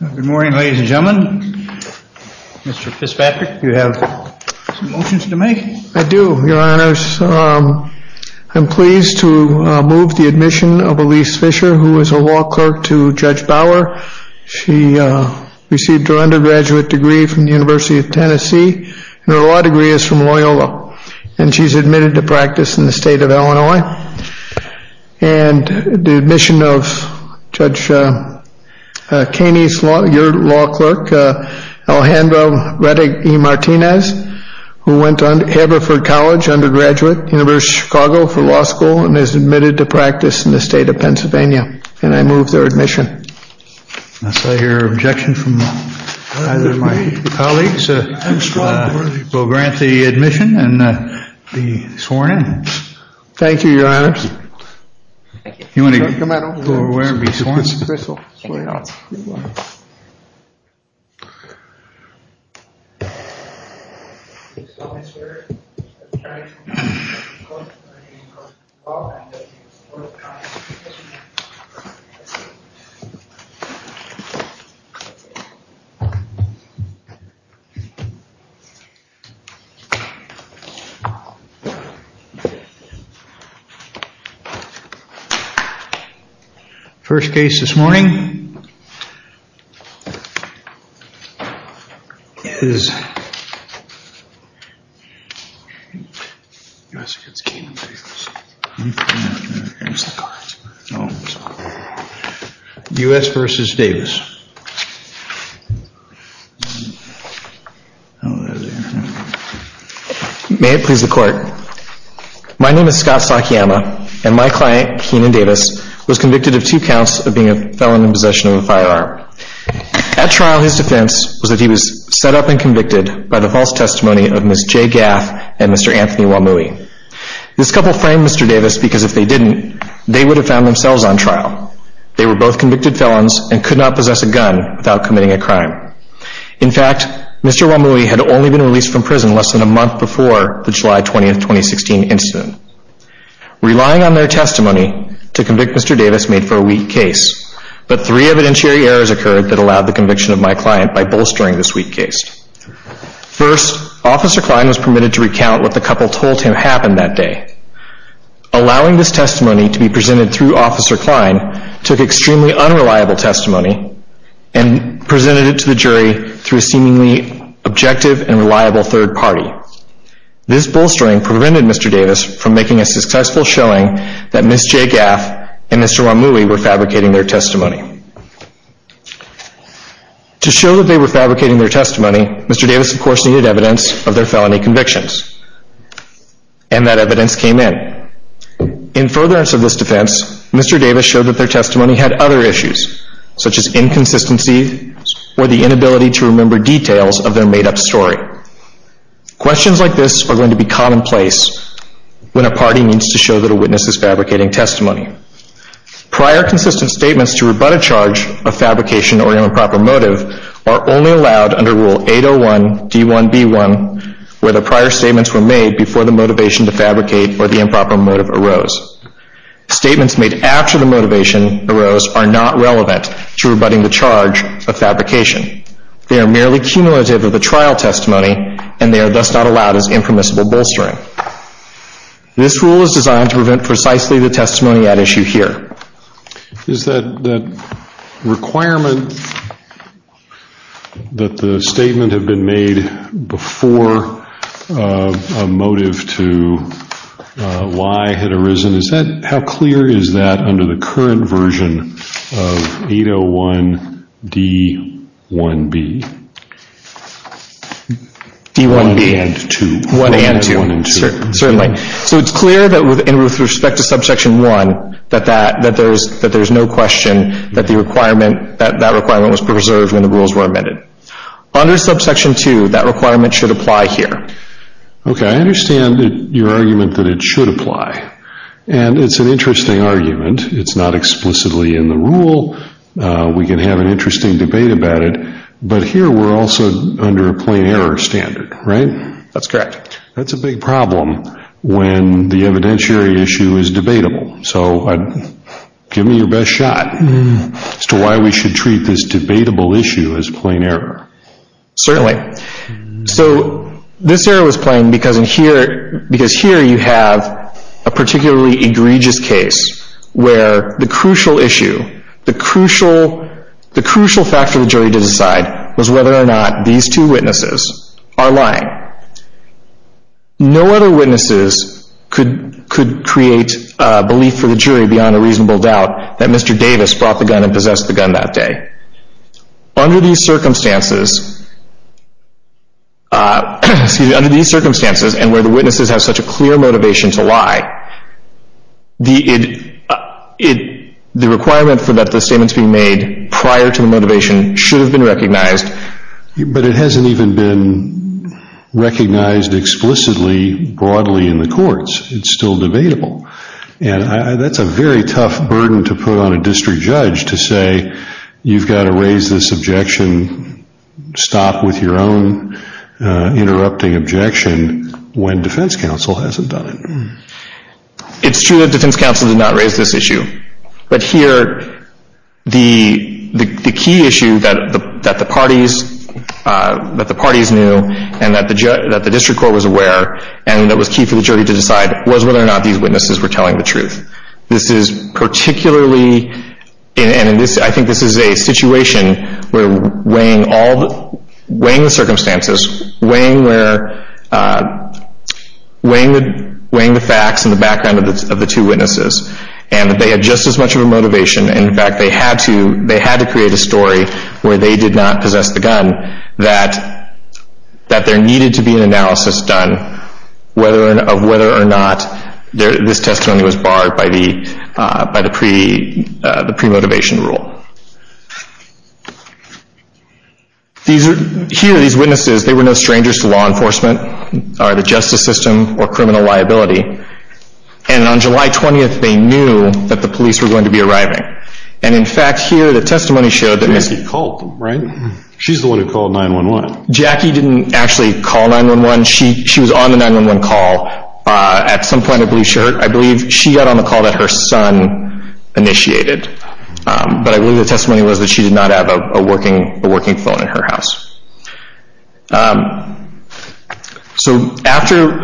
Good morning ladies and gentlemen. Mr. Fitzpatrick, do you have some motions to make? I do, your honors. I'm pleased to move the admission of Elise Fisher, who is a law clerk to Judge Bauer. She received her undergraduate degree from the University of Tennessee, and her law degree is from Loyola. And she's admitted to practice in the state of Illinois. And the admission of Judge Caney's law, your law clerk, Alejandro Rettig-Martinez, who went to Haverford College, undergraduate, University of Chicago for law school, and is admitted to practice in the state of Pennsylvania. And I move their admission. I hear objection from either of my colleagues. We'll grant the admission and be sworn in. First case this morning is... U.S. v. Davis May it please the court. My name is Scott Sakiyama, and my client, Keenan Davis, was convicted of two counts of being a felon in possession of a firearm. At trial, his defense was that he was set up and convicted by the false testimony of Ms. J. Gaff and Mr. Anthony Wamui. This couple framed Mr. Davis because if they didn't, they would have found themselves on trial. They were both convicted felons and could not possess a gun without committing a crime. In fact, Mr. Wamui had only been released from prison less than a month before the July 20, 2016 incident. Relying on their testimony to convict Mr. Davis made for a weak case. But three evidentiary errors occurred that allowed the conviction of my client by bolstering this weak case. First, Officer Klein was permitted to recount what the couple told him happened that day. Allowing this testimony to be presented through Officer Klein took extremely unreliable testimony and presented it to the jury through a seemingly objective and reliable third party. This bolstering prevented Mr. Davis from making a successful showing that Ms. J. Gaff and Mr. Wamui were fabricating their testimony. To show that they were fabricating their testimony, Mr. Davis of course needed evidence of their felony convictions. And that evidence came in. In furtherance of this defense, Mr. Davis showed that their testimony had other issues such as inconsistency or the inability to remember details of their made up story. Questions like this are going to be commonplace when a party needs to show that a witness is fabricating testimony. Prior consistent statements to rebut a charge of fabrication or improper motive are only allowed under Rule 801 D1B1 where the prior statements were made before the motivation to fabricate or the improper motive arose. Statements made after the motivation arose are not relevant to rebutting the charge of fabrication. They are merely cumulative of the trial testimony and they are thus not allowed as impermissible bolstering. This rule is designed to prevent precisely the testimony at issue here. Is that requirement that the statement had been made before a motive to why had arisen, how clear is that under the current version of 801 D1B? D1B. 1 and 2. 1 and 2. 1 and 2. Certainly. So it's clear that with respect to Subsection 1 that there's no question that the requirement, that requirement was preserved when the rules were amended. Under Subsection 2 that requirement should apply here. Okay, I understand your argument that it should apply. And it's an interesting argument. It's not explicitly in the rule. We can have an interesting debate about it. But here we're also under a plain error standard, right? That's correct. That's a big problem when the evidentiary issue is debatable. So give me your best shot as to why we should treat this debatable issue as plain error. Certainly. So this error was plain because here you have a particularly egregious case where the crucial issue, the crucial fact for the jury to decide, was whether or not these two witnesses are lying. No other witnesses could create belief for the jury beyond a reasonable doubt that Mr. Davis brought the gun and possessed the gun that day. Under these circumstances, and where the witnesses have such a clear motivation to lie, the requirement for that statement to be made prior to the motivation should have been recognized. But it hasn't even been recognized explicitly broadly in the courts. It's still debatable. And that's a very tough burden to put on a district judge to say, you've got to raise this objection, stop with your own interrupting objection, when defense counsel hasn't done it. It's true that defense counsel did not raise this issue. But here the key issue that the parties knew and that the district court was aware and that was key for the jury to decide was whether or not these witnesses were telling the truth. This is particularly, and I think this is a situation where weighing the circumstances, weighing the facts and the background of the two witnesses, and that they had just as much of a motivation, in fact they had to create a story where they did not possess the gun, that there needed to be an analysis done of whether or not this testimony was barred by the premotivation rule. Here these witnesses, they were no strangers to law enforcement or the justice system or criminal liability. And on July 20th they knew that the police were going to be arriving. And in fact here the testimony showed that Missy called them, right? She's the one who called 911. Jackie didn't actually call 911. She was on the 911 call. At some point I believe she heard. I believe she got on the call that her son initiated. But I believe the testimony was that she did not have a working phone in her house. So after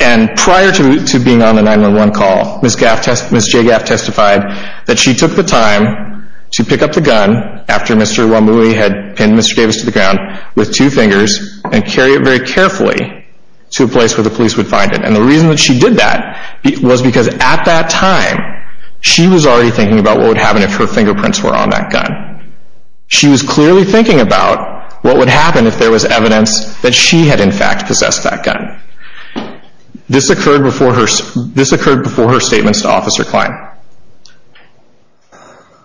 and prior to being on the 911 call, Miss J. Gaff testified that she took the time to pick up the gun after Mr. Wamui had pinned Mr. Davis to the ground with two fingers and carry it very carefully to a place where the police would find it. And the reason that she did that was because at that time she was already thinking about what would happen if her fingerprints were on that gun. She was clearly thinking about what would happen if there was evidence that she had in fact possessed that gun. This occurred before her statements to Officer Klein.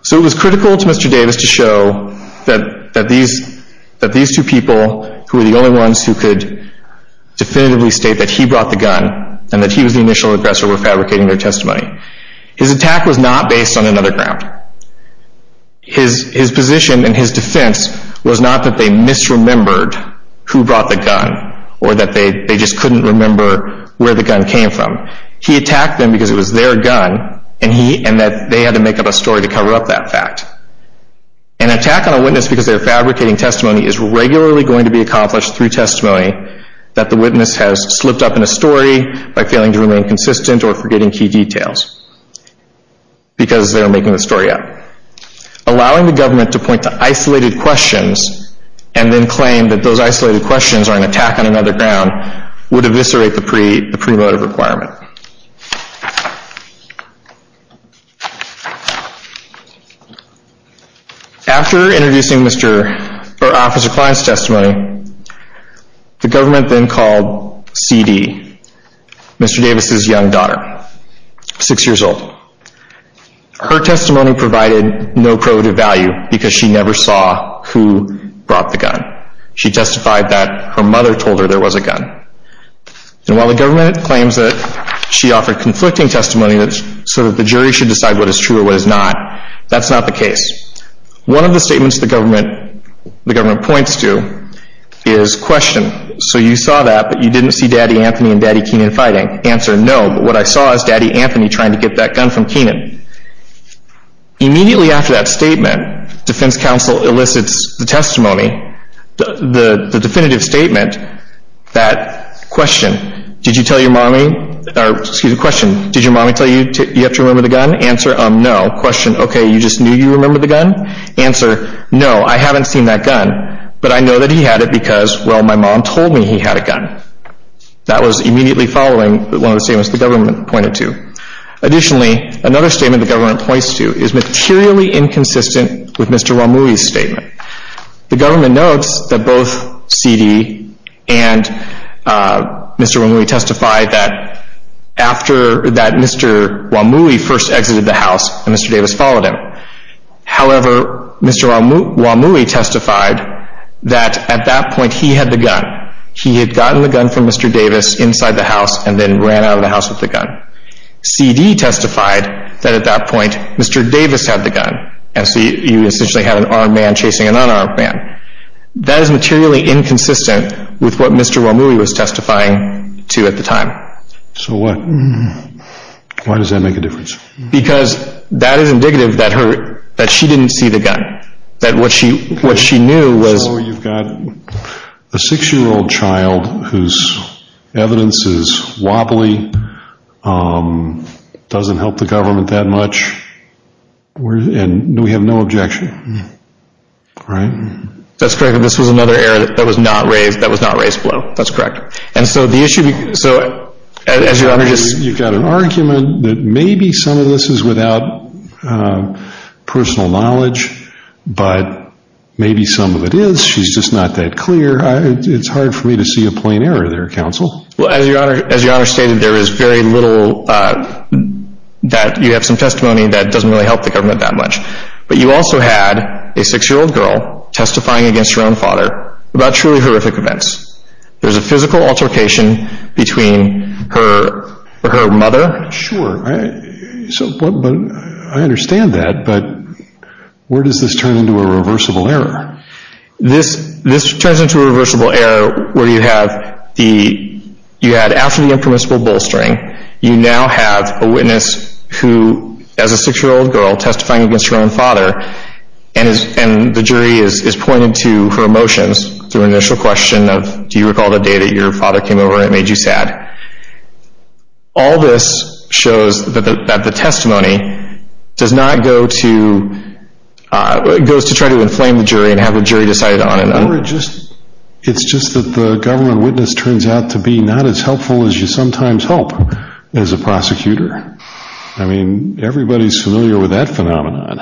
So it was critical to Mr. Davis to show that these two people who were the only ones who could definitively state that he brought the gun and that he was the initial aggressor were fabricating their testimony. His attack was not based on another ground. His position and his defense was not that they misremembered who brought the gun or that they just couldn't remember where the gun came from. He attacked them because it was their gun and that they had to make up a story to cover up that fact. An attack on a witness because they're fabricating testimony is regularly going to be accomplished through testimony that the witness has slipped up in a story by failing to remain consistent or forgetting key details because they're making the story up. Allowing the government to point to isolated questions and then claim that those isolated questions are an attack on another ground would eviscerate the pre-motive requirement. Next slide. After introducing Officer Klein's testimony, the government then called C.D., Mr. Davis' young daughter, 6 years old. Her testimony provided no pre-motive value because she never saw who brought the gun. She testified that her mother told her there was a gun. And while the government claims that she offered conflicting testimony so that the jury should decide what is true or what is not, that's not the case. One of the statements the government points to is question, so you saw that but you didn't see Daddy Anthony and Daddy Kenan fighting? Answer, no, but what I saw is Daddy Anthony trying to get that gun from Kenan. Immediately after that statement, defense counsel elicits the testimony, the definitive statement that question, did you tell your mommy, or excuse me, question, did your mommy tell you you have to remember the gun? Answer, no. Question, okay, you just knew you remembered the gun? Answer, no, I haven't seen that gun, but I know that he had it because, well, my mom told me he had a gun. That was immediately following one of the statements the government pointed to. Additionally, another statement the government points to is materially inconsistent with Mr. Wamui's statement. The government notes that both C.D. and Mr. Wamui testified that after that, Mr. Wamui first exited the house and Mr. Davis followed him. However, Mr. Wamui testified that at that point he had the gun. He had gotten the gun from Mr. Davis inside the house and then ran out of the house with the gun. C.D. testified that at that point Mr. Davis had the gun, and so you essentially had an armed man chasing an unarmed man. That is materially inconsistent with what Mr. Wamui was testifying to at the time. So what? Why does that make a difference? Because that is indicative that she didn't see the gun, that what she knew was... So you've got a six-year-old child whose evidence is wobbly, doesn't help the government that much, and we have no objection, right? That's correct. This was another error that was not raised below. That's correct. And so the issue... You've got an argument that maybe some of this is without personal knowledge, but maybe some of it is. She's just not that clear. It's hard for me to see a plain error there, Counsel. Well, as Your Honor stated, there is very little that you have some testimony that doesn't really help the government that much. But you also had a six-year-old girl testifying against her own father about truly horrific events. There's a physical altercation between her and her mother. Sure. I understand that, but where does this turn into a reversible error? This turns into a reversible error where you have the... You had, after the impermissible bolstering, you now have a witness who, as a six-year-old girl testifying against her own father, and the jury is pointed to her emotions through an initial question of, do you recall the day that your father came over and it made you sad? All this shows that the testimony does not go to try to inflame the jury and have the jury decide on an... Or it's just that the government witness turns out to be not as helpful as you sometimes hope as a prosecutor. I mean, everybody's familiar with that phenomenon.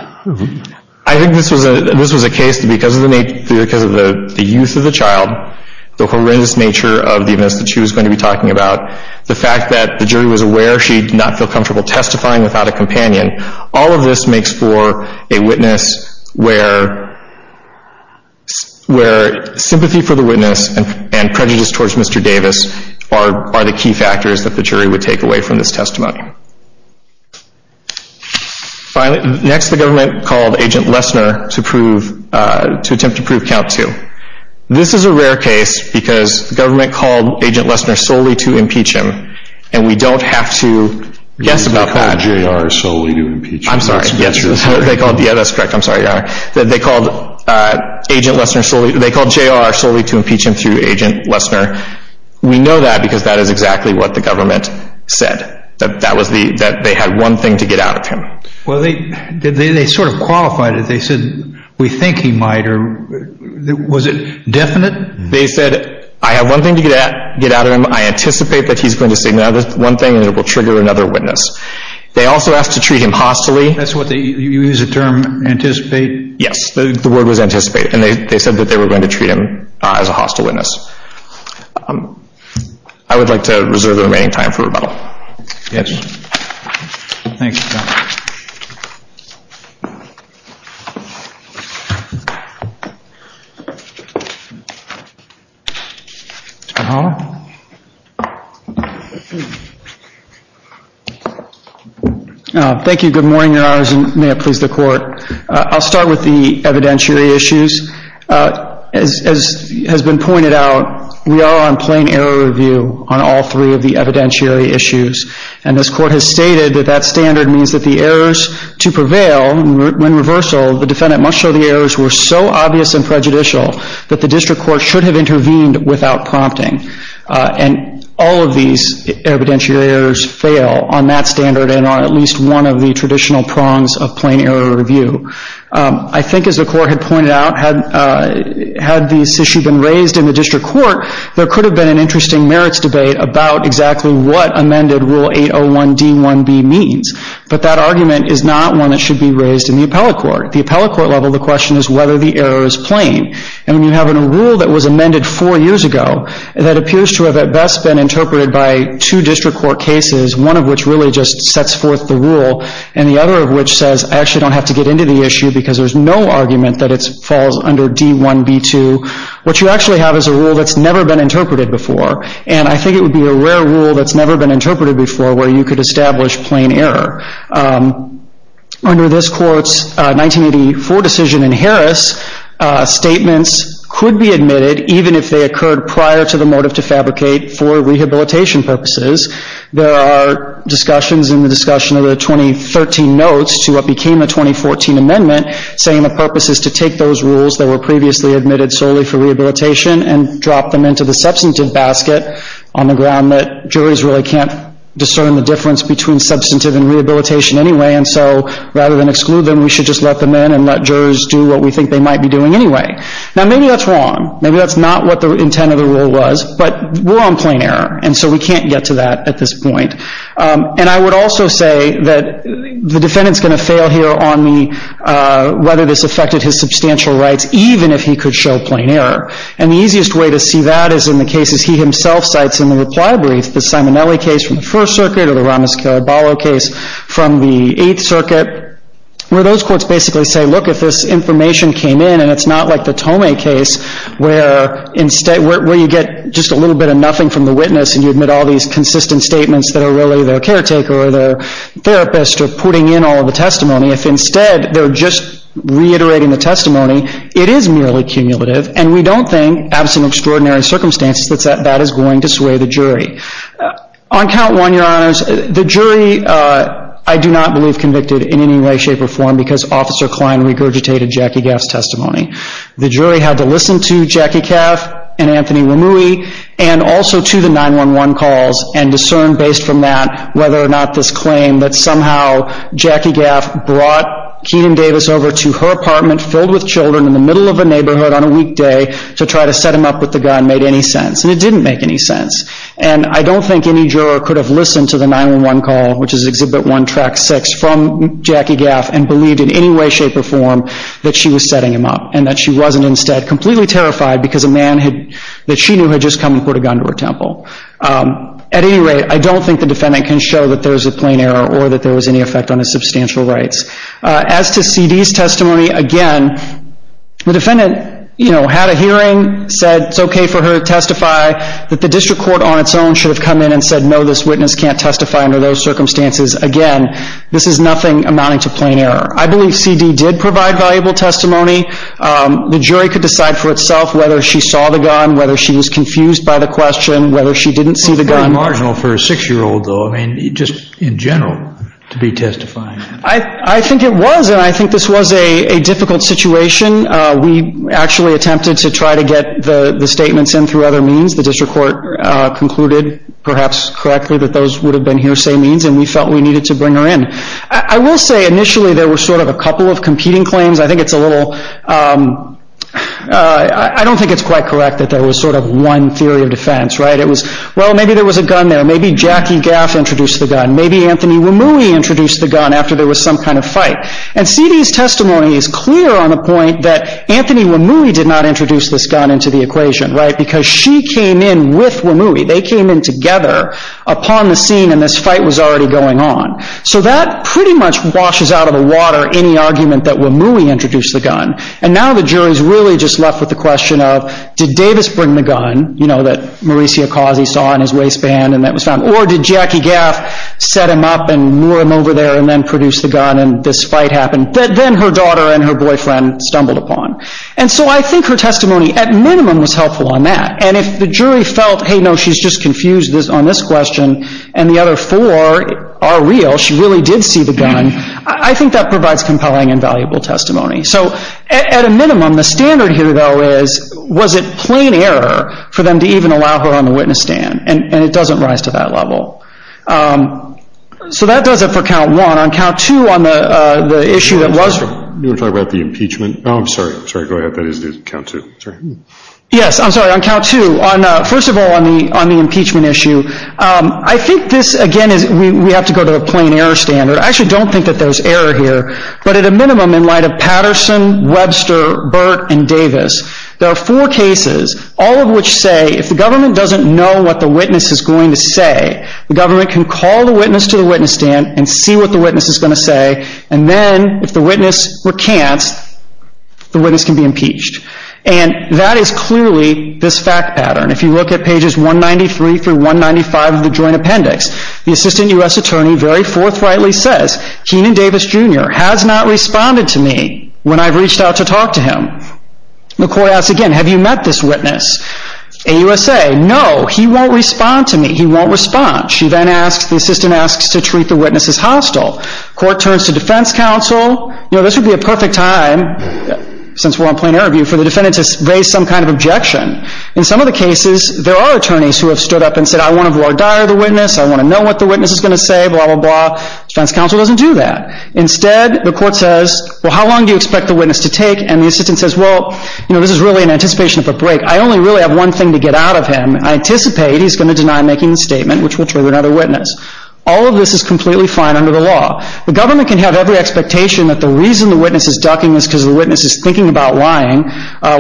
I think this was a case because of the youth of the child, the horrendous nature of the events that she was going to be talking about, the fact that the jury was aware she did not feel comfortable testifying without a companion. All of this makes for a witness where sympathy for the witness and prejudice towards Mr. Davis are the key factors that the jury would take away from this testimony. Next, the government called Agent Lesner to attempt to prove count two. This is a rare case because the government called Agent Lesner solely to impeach him, and we don't have to guess about that. They called J.R. solely to impeach him. I'm sorry. Yeah, that's correct. They called J.R. solely to impeach him through Agent Lesner. We know that because that is exactly what the government said, that they had one thing to get out of him. Well, they sort of qualified it. They said, we think he might, or was it definite? They said, I have one thing to get out of him. I anticipate that he's going to say another one thing, and it will trigger another witness. They also asked to treat him hostilely. You used the term anticipate? Yes, the word was anticipate, and they said that they were going to treat him as a hostile witness. I would like to reserve the remaining time for rebuttal. Yes. Thank you. Thank you. Good morning, Your Honors, and may it please the Court. I'll start with the evidentiary issues. As has been pointed out, we are on plain error review on all three of the evidentiary issues, and this Court has stated that that standard means that the errors to prevail when reversal, the defendant must show the errors were so obvious and prejudicial that the district court should have intervened without prompting, and all of these evidentiary errors fail on that standard and are at least one of the traditional prongs of plain error review. I think, as the Court had pointed out, had this issue been raised in the district court, there could have been an interesting merits debate about exactly what amended Rule 801 D-1B means, but that argument is not one that should be raised in the appellate court. At the appellate court level, the question is whether the error is plain, and when you have a rule that was amended four years ago that appears to have at best been interpreted by two district court cases, one of which really just sets forth the rule, and the other of which says, I actually don't have to get into the issue because there's no argument that it falls under D-1B-2, what you actually have is a rule that's never been interpreted before, and I think it would be a rare rule that's never been interpreted before where you could establish plain error. Under this Court's 1984 decision in Harris, statements could be admitted even if they occurred prior to the motive to fabricate for rehabilitation purposes. There are discussions in the discussion of the 2013 notes to what became the 2014 amendment saying the purpose is to take those rules that were previously admitted solely for rehabilitation and drop them into the substantive basket on the ground that juries really can't discern the difference between substantive and rehabilitation anyway, and so rather than exclude them, we should just let them in and let jurors do what we think they might be doing anyway. Now, maybe that's wrong. Maybe that's not what the intent of the rule was, but we're on plain error, and so we can't get to that at this point. And I would also say that the defendant's going to fail here on the whether this affected his substantial rights even if he could show plain error, and the easiest way to see that is in the cases he himself cites in the reply brief, the Simonelli case from the First Circuit or the Ramos-Caraballo case from the Eighth Circuit, where those courts basically say, look, if this information came in and it's not like the Tomei case where you get just a little bit of nothing from the witness, and you admit all these consistent statements that are really their caretaker or their therapist or putting in all of the testimony, if instead they're just reiterating the testimony, it is merely cumulative, and we don't think, absent extraordinary circumstances, that that is going to sway the jury. On count one, Your Honors, the jury I do not believe convicted in any way, shape, or form because Officer Klein regurgitated Jackie Gaff's testimony. The jury had to listen to Jackie Gaff and Anthony Rimui and also to the 911 calls and discern based from that whether or not this claim that somehow Jackie Gaff brought Keenan Davis over to her apartment filled with children in the middle of a neighborhood on a weekday to try to set him up with the guy made any sense, and it didn't make any sense. And I don't think any juror could have listened to the 911 call, which is Exhibit 1, Track 6, from Jackie Gaff and believed in any way, shape, or form that she was setting him up and that she wasn't instead completely terrified because a man that she knew had just come and put a gun to her temple. At any rate, I don't think the defendant can show that there is a plain error or that there was any effect on his substantial rights. As to C.D.'s testimony, again, the defendant had a hearing, said it's okay for her to testify, that the district court on its own should have come in and said, no, this witness can't testify under those circumstances. Again, this is nothing amounting to plain error. I believe C.D. did provide valuable testimony. The jury could decide for itself whether she saw the gun, whether she was confused by the question, whether she didn't see the gun. It's pretty marginal for a 6-year-old, though, just in general, to be testifying. I think it was, and I think this was a difficult situation. We actually attempted to try to get the statements in through other means. The district court concluded, perhaps correctly, that those would have been hearsay means, and we felt we needed to bring her in. I will say, initially, there were sort of a couple of competing claims. I think it's a little, I don't think it's quite correct that there was sort of one theory of defense. It was, well, maybe there was a gun there. Maybe Jackie Gaff introduced the gun. Maybe Anthony Wamui introduced the gun after there was some kind of fight. And C.D.'s testimony is clear on the point that Anthony Wamui did not introduce this gun into the equation because she came in with Wamui. They came in together upon the scene, and this fight was already going on. So that pretty much washes out of the water any argument that Wamui introduced the gun. And now the jury is really just left with the question of, did Davis bring the gun, you know, that Maurizio Cosi saw in his waistband and that was found, or did Jackie Gaff set him up and lure him over there and then produce the gun, and this fight happened. Then her daughter and her boyfriend stumbled upon. And so I think her testimony, at minimum, was helpful on that. And if the jury felt, hey, no, she's just confused on this question, and the other four are real, she really did see the gun, I think that provides compelling and valuable testimony. So at a minimum, the standard here, though, is, was it plain error for them to even allow her on the witness stand? And it doesn't rise to that level. So that does it for count one. On count two on the issue that was... Yes, I'm sorry, on count two. First of all, on the impeachment issue, I think this, again, we have to go to a plain error standard. I actually don't think that there's error here. But at a minimum, in light of Patterson, Webster, Burt, and Davis, there are four cases, all of which say if the government doesn't know what the witness is going to say, the government can call the witness to the witness stand and see what the witness is going to say, and then if the witness recants, the witness can be impeached. And that is clearly this fact pattern. If you look at pages 193 through 195 of the Joint Appendix, the assistant U.S. attorney very forthrightly says, Kenan Davis, Jr. has not responded to me when I've reached out to talk to him. The court asks again, have you met this witness? AUSA, no, he won't respond to me, he won't respond. The court turns to defense counsel. You know, this would be a perfect time, since we're on plain error view, for the defendant to raise some kind of objection. In some of the cases, there are attorneys who have stood up and said, I want to voir dire the witness, I want to know what the witness is going to say, blah, blah, blah. Defense counsel doesn't do that. Instead, the court says, well, how long do you expect the witness to take? And the assistant says, well, you know, this is really an anticipation of a break. I only really have one thing to get out of him. I anticipate he's going to deny making the statement, which will trigger another witness. All of this is completely fine under the law. The government can have every expectation that the reason the witness is ducking is because the witness is thinking about lying.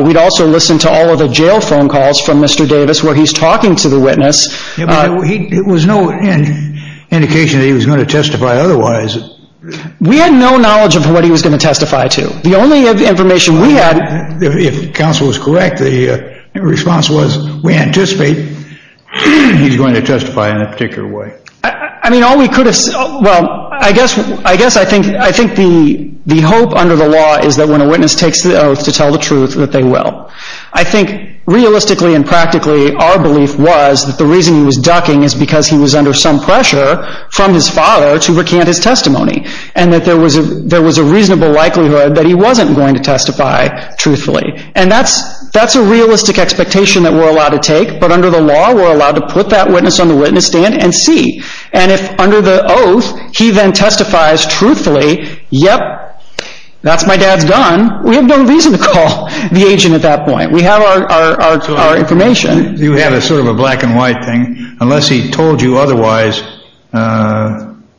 We'd also listen to all of the jail phone calls from Mr. Davis where he's talking to the witness. It was no indication that he was going to testify otherwise. We had no knowledge of what he was going to testify to. The only information we had. If counsel was correct, the response was, we anticipate he's going to testify in a particular way. I mean, all we could have said, well, I guess I think the hope under the law is that when a witness takes the oath to tell the truth that they will. I think realistically and practically our belief was that the reason he was ducking is because he was under some pressure from his father to recant his testimony. And that there was a reasonable likelihood that he wasn't going to testify truthfully. And that's a realistic expectation that we're allowed to take. But under the law, we're allowed to put that witness on the witness stand and see. And if under the oath, he then testifies truthfully. Yep, that's my dad's gun. We have no reason to call the agent at that point. We have our information. You have a sort of a black and white thing. Unless he told you otherwise,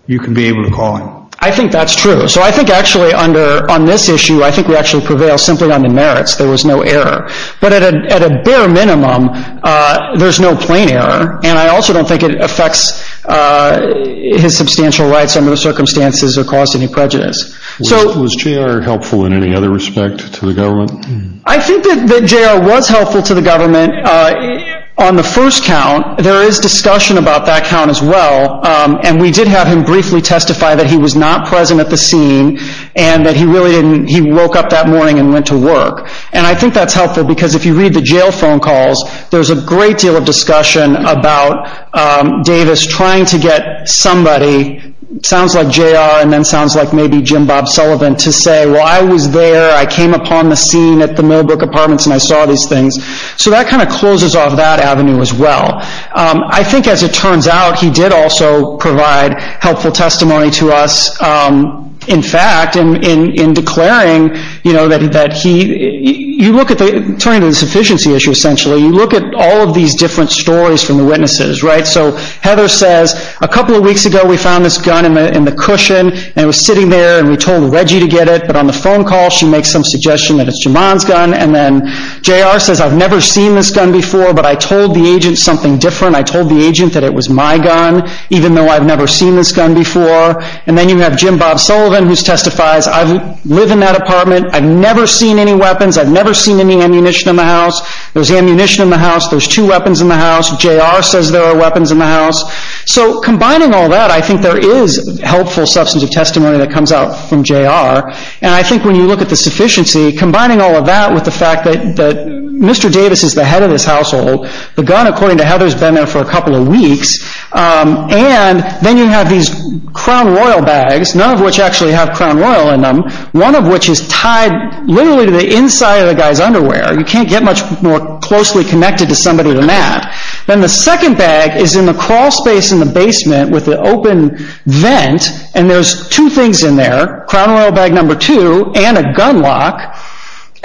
you can be able to call him. I think that's true. So I think actually under on this issue, I think we actually prevail simply on the merits. There was no error. But at a bare minimum, there's no plain error. And I also don't think it affects his substantial rights under the circumstances or caused any prejudice. Was J.R. helpful in any other respect to the government? I think that J.R. was helpful to the government on the first count. There is discussion about that count as well. And we did have him briefly testify that he was not present at the scene and that he really didn't. He woke up that morning and went to work. And I think that's helpful because if you read the jail phone calls, there's a great deal of discussion about Davis trying to get somebody, sounds like J.R. and then sounds like maybe Jim Bob Sullivan, to say, well, I was there. I came upon the scene at the Millbrook apartments and I saw these things. So that kind of closes off that avenue as well. I think as it turns out, he did also provide helpful testimony to us. In fact, in declaring, you know, that he, you look at the, turning to the sufficiency issue essentially, you look at all of these different stories from the witnesses, right? So Heather says, a couple of weeks ago we found this gun in the cushion and it was sitting there and we told Reggie to get it, but on the phone call she makes some suggestion that it's Jamon's gun. And then J.R. says, I've never seen this gun before, but I told the agent something different. I told the agent that it was my gun, even though I've never seen this gun before. And then you have Jim Bob Sullivan, who testifies, I live in that apartment. I've never seen any weapons. I've never seen any ammunition in the house. There's ammunition in the house. There's two weapons in the house. J.R. says there are weapons in the house. So combining all that, I think there is helpful substance of testimony that comes out from J.R. And I think when you look at the sufficiency, combining all of that with the fact that Mr. Davis is the head of this household, the gun, according to Heather, has been there for a couple of weeks, and then you have these Crown Royal bags, none of which actually have Crown Royal in them, one of which is tied literally to the inside of the guy's underwear. You can't get much more closely connected to somebody than that. Then the second bag is in the crawl space in the basement with the open vent, and there's two things in there, Crown Royal bag number two and a gun lock.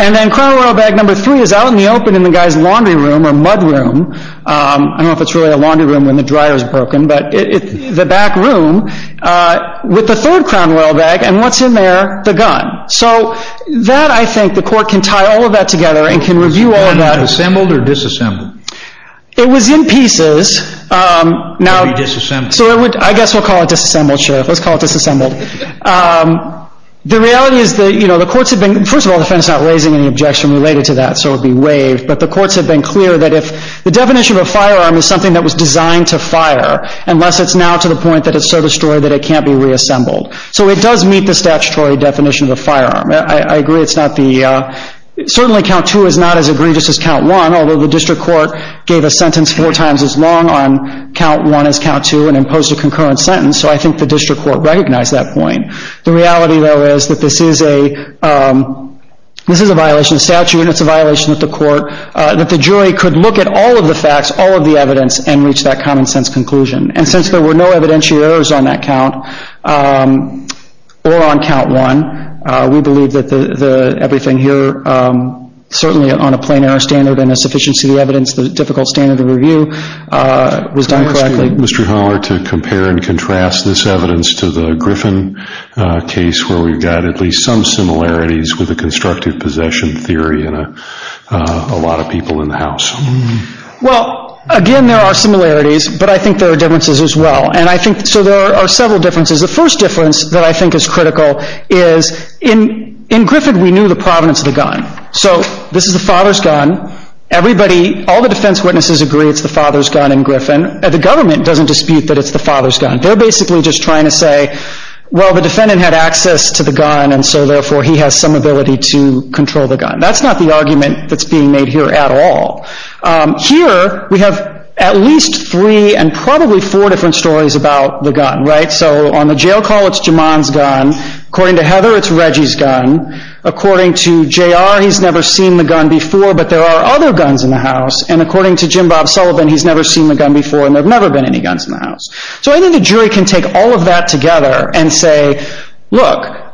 And then Crown Royal bag number three is out in the open in the guy's laundry room or mud room. I don't know if it's really a laundry room when the dryer is broken, but the back room with the third Crown Royal bag, and what's in there? The gun. So that, I think, the court can tie all of that together and can review all of that. Was the gun assembled or disassembled? It was in pieces. It would be disassembled. I guess we'll call it disassembled, Sheriff. Let's call it disassembled. The reality is that the courts have been, first of all, the defense is not raising any objection related to that, so it would be waived, but the courts have been clear that if, the definition of a firearm is something that was designed to fire, unless it's now to the point that it's so destroyed that it can't be reassembled. So it does meet the statutory definition of a firearm. I agree it's not the, certainly count two is not as egregious as count one, although the district court gave a sentence four times as long on count one as count two and imposed a concurrent sentence, so I think the district court recognized that point. The reality, though, is that this is a violation of statute and it's a violation of the court, that the jury could look at all of the facts, all of the evidence, and reach that common sense conclusion. And since there were no evidentiary errors on that count or on count one, we believe that everything here, certainly on a plain error standard and a sufficiency of the evidence, Mr. Holler, to compare and contrast this evidence to the Griffin case, where we've got at least some similarities with the constructive possession theory in a lot of people in the house. Well, again, there are similarities, but I think there are differences as well. And I think, so there are several differences. The first difference that I think is critical is, in Griffin, we knew the provenance of the gun. So this is the father's gun. Everybody, all the defense witnesses agree it's the father's gun in Griffin. The government doesn't dispute that it's the father's gun. They're basically just trying to say, well, the defendant had access to the gun, and so therefore he has some ability to control the gun. That's not the argument that's being made here at all. Here, we have at least three and probably four different stories about the gun, right? So on the jail call, it's Jaman's gun. According to Heather, it's Reggie's gun. According to J.R., he's never seen the gun before, but there are other guns in the house. And according to Jim Bob Sullivan, he's never seen the gun before, and there have never been any guns in the house. So I think the jury can take all of that together and say, look,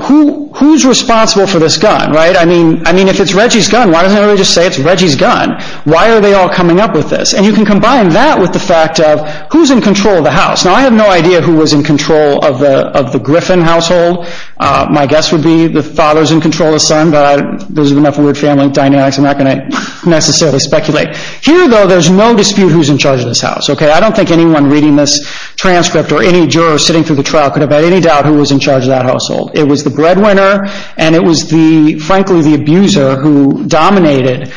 who's responsible for this gun, right? I mean, if it's Reggie's gun, why doesn't everybody just say it's Reggie's gun? Why are they all coming up with this? And you can combine that with the fact of who's in control of the house. Now, I have no idea who was in control of the Griffin household. My guess would be the father's in control of the son, but those are enough family dynamics. I'm not going to necessarily speculate. Here, though, there's no dispute who's in charge of this house, okay? I don't think anyone reading this transcript or any juror sitting through the trial could have had any doubt who was in charge of that household. It was the breadwinner, and it was, frankly, the abuser who dominated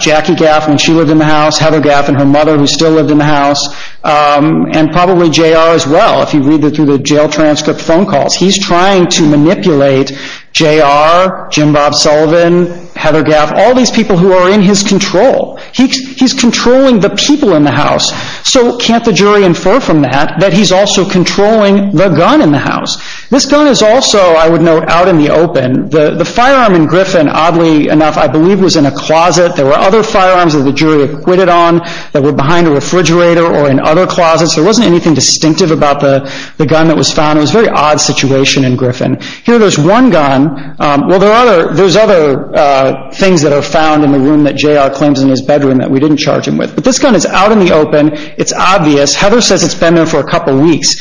Jackie Gaff when she lived in the house, Heather Gaff and her mother, who still lived in the house, and probably J.R. as well. If you read through the jail transcript phone calls, he's trying to manipulate J.R., Jim Bob Sullivan, Heather Gaff, all these people who are in his control. He's controlling the people in the house. So can't the jury infer from that that he's also controlling the gun in the house? This gun is also, I would note, out in the open. The firearm in Griffin, oddly enough, I believe was in a closet. There were other firearms that the jury acquitted on that were behind a refrigerator or in other closets. There wasn't anything distinctive about the gun that was found. It was a very odd situation in Griffin. Here there's one gun. Well, there's other things that are found in the room that J.R. claims in his bedroom that we didn't charge him with. But this gun is out in the open. It's obvious. Heather says it's been there for a couple weeks.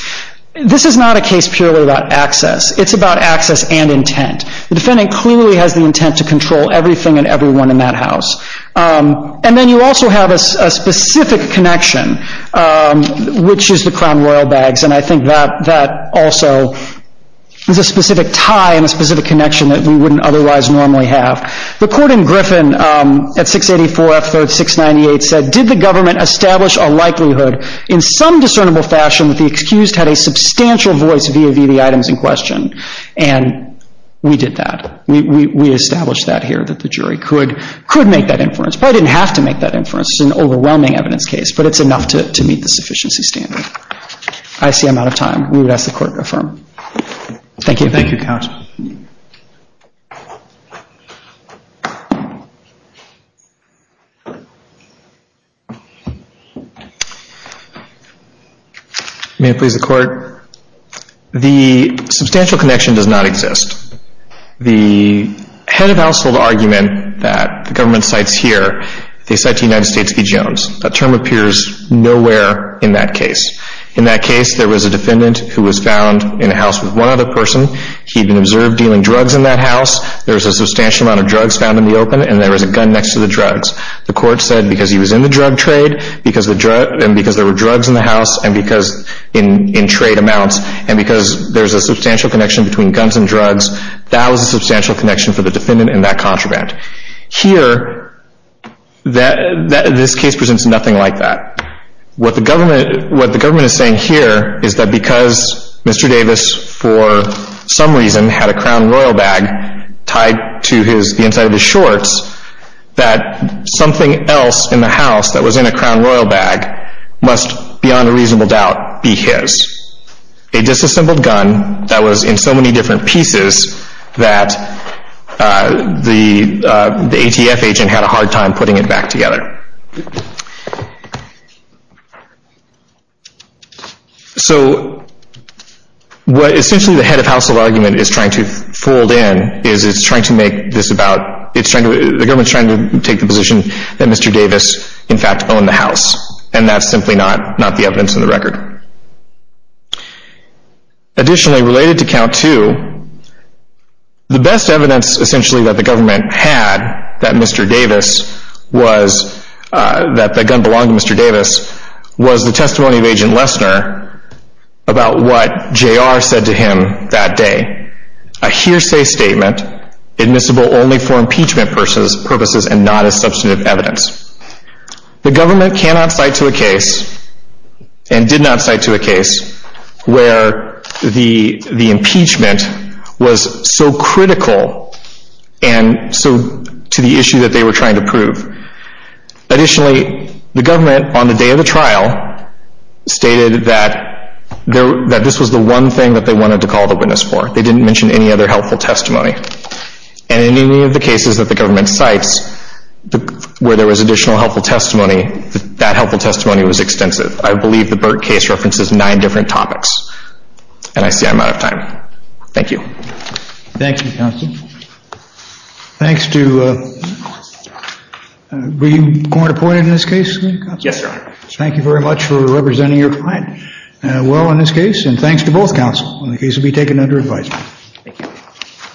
This is not a case purely about access. It's about access and intent. The defendant clearly has the intent to control everything and everyone in that house. And then you also have a specific connection, which is the Crown Royal bags. And I think that also is a specific tie and a specific connection that we wouldn't otherwise normally have. The court in Griffin at 684 F. 3rd 698 said, Did the government establish a likelihood in some discernible fashion that the excused had a substantial voice via the items in question? And we did that. We established that here, that the jury could make that inference. Probably didn't have to make that inference. It's an overwhelming evidence case, but it's enough to meet the sufficiency standard. I see I'm out of time. We would ask the court to affirm. Thank you. Thank you, counsel. May it please the court. The substantial connection does not exist. The head of household argument that the government cites here, they cite the United States v. Jones. That term appears nowhere in that case. In that case, there was a defendant who was found in a house with one other person. He'd been observed dealing drugs in that house. There was a substantial amount of drugs found in the open, and there was a gun next to the drugs. The court said because he was in the drug trade and because there were drugs in the house and because in trade amounts and because there's a substantial connection between guns and drugs, that was a substantial connection for the defendant in that contraband. Here, this case presents nothing like that. What the government is saying here is that because Mr. Davis, for some reason, had a crown royal bag tied to the inside of his shorts, that something else in the house that was in a crown royal bag must, beyond a reasonable doubt, be his. A disassembled gun that was in so many different pieces that the ATF agent had a hard time putting it back together. Essentially, the head of household argument is trying to fold in. The government is trying to take the position that Mr. Davis, in fact, owned the house, and that's simply not the evidence in the record. Additionally, related to count two, the best evidence, essentially, that the government had that Mr. Davis that the gun belonged to Mr. Davis was the testimony of Agent Lesner about what J.R. said to him that day. A hearsay statement admissible only for impeachment purposes and not as substantive evidence. The government cannot cite to a case and did not cite to a case where the impeachment was so critical and so to the issue that they were trying to prove. Additionally, the government, on the day of the trial, stated that this was the one thing that they wanted to call the witness for. They didn't mention any other helpful testimony. And in any of the cases that the government cites where there was additional helpful testimony, that helpful testimony was extensive. I believe the Burke case references nine different topics. And I see I'm out of time. Thank you. Thank you, Counsel. Thanks to, were you court appointed in this case? Yes, Your Honor. Thank you very much for representing your client well in this case. And thanks to both counsel in the case to be taken under advisement. Thank you.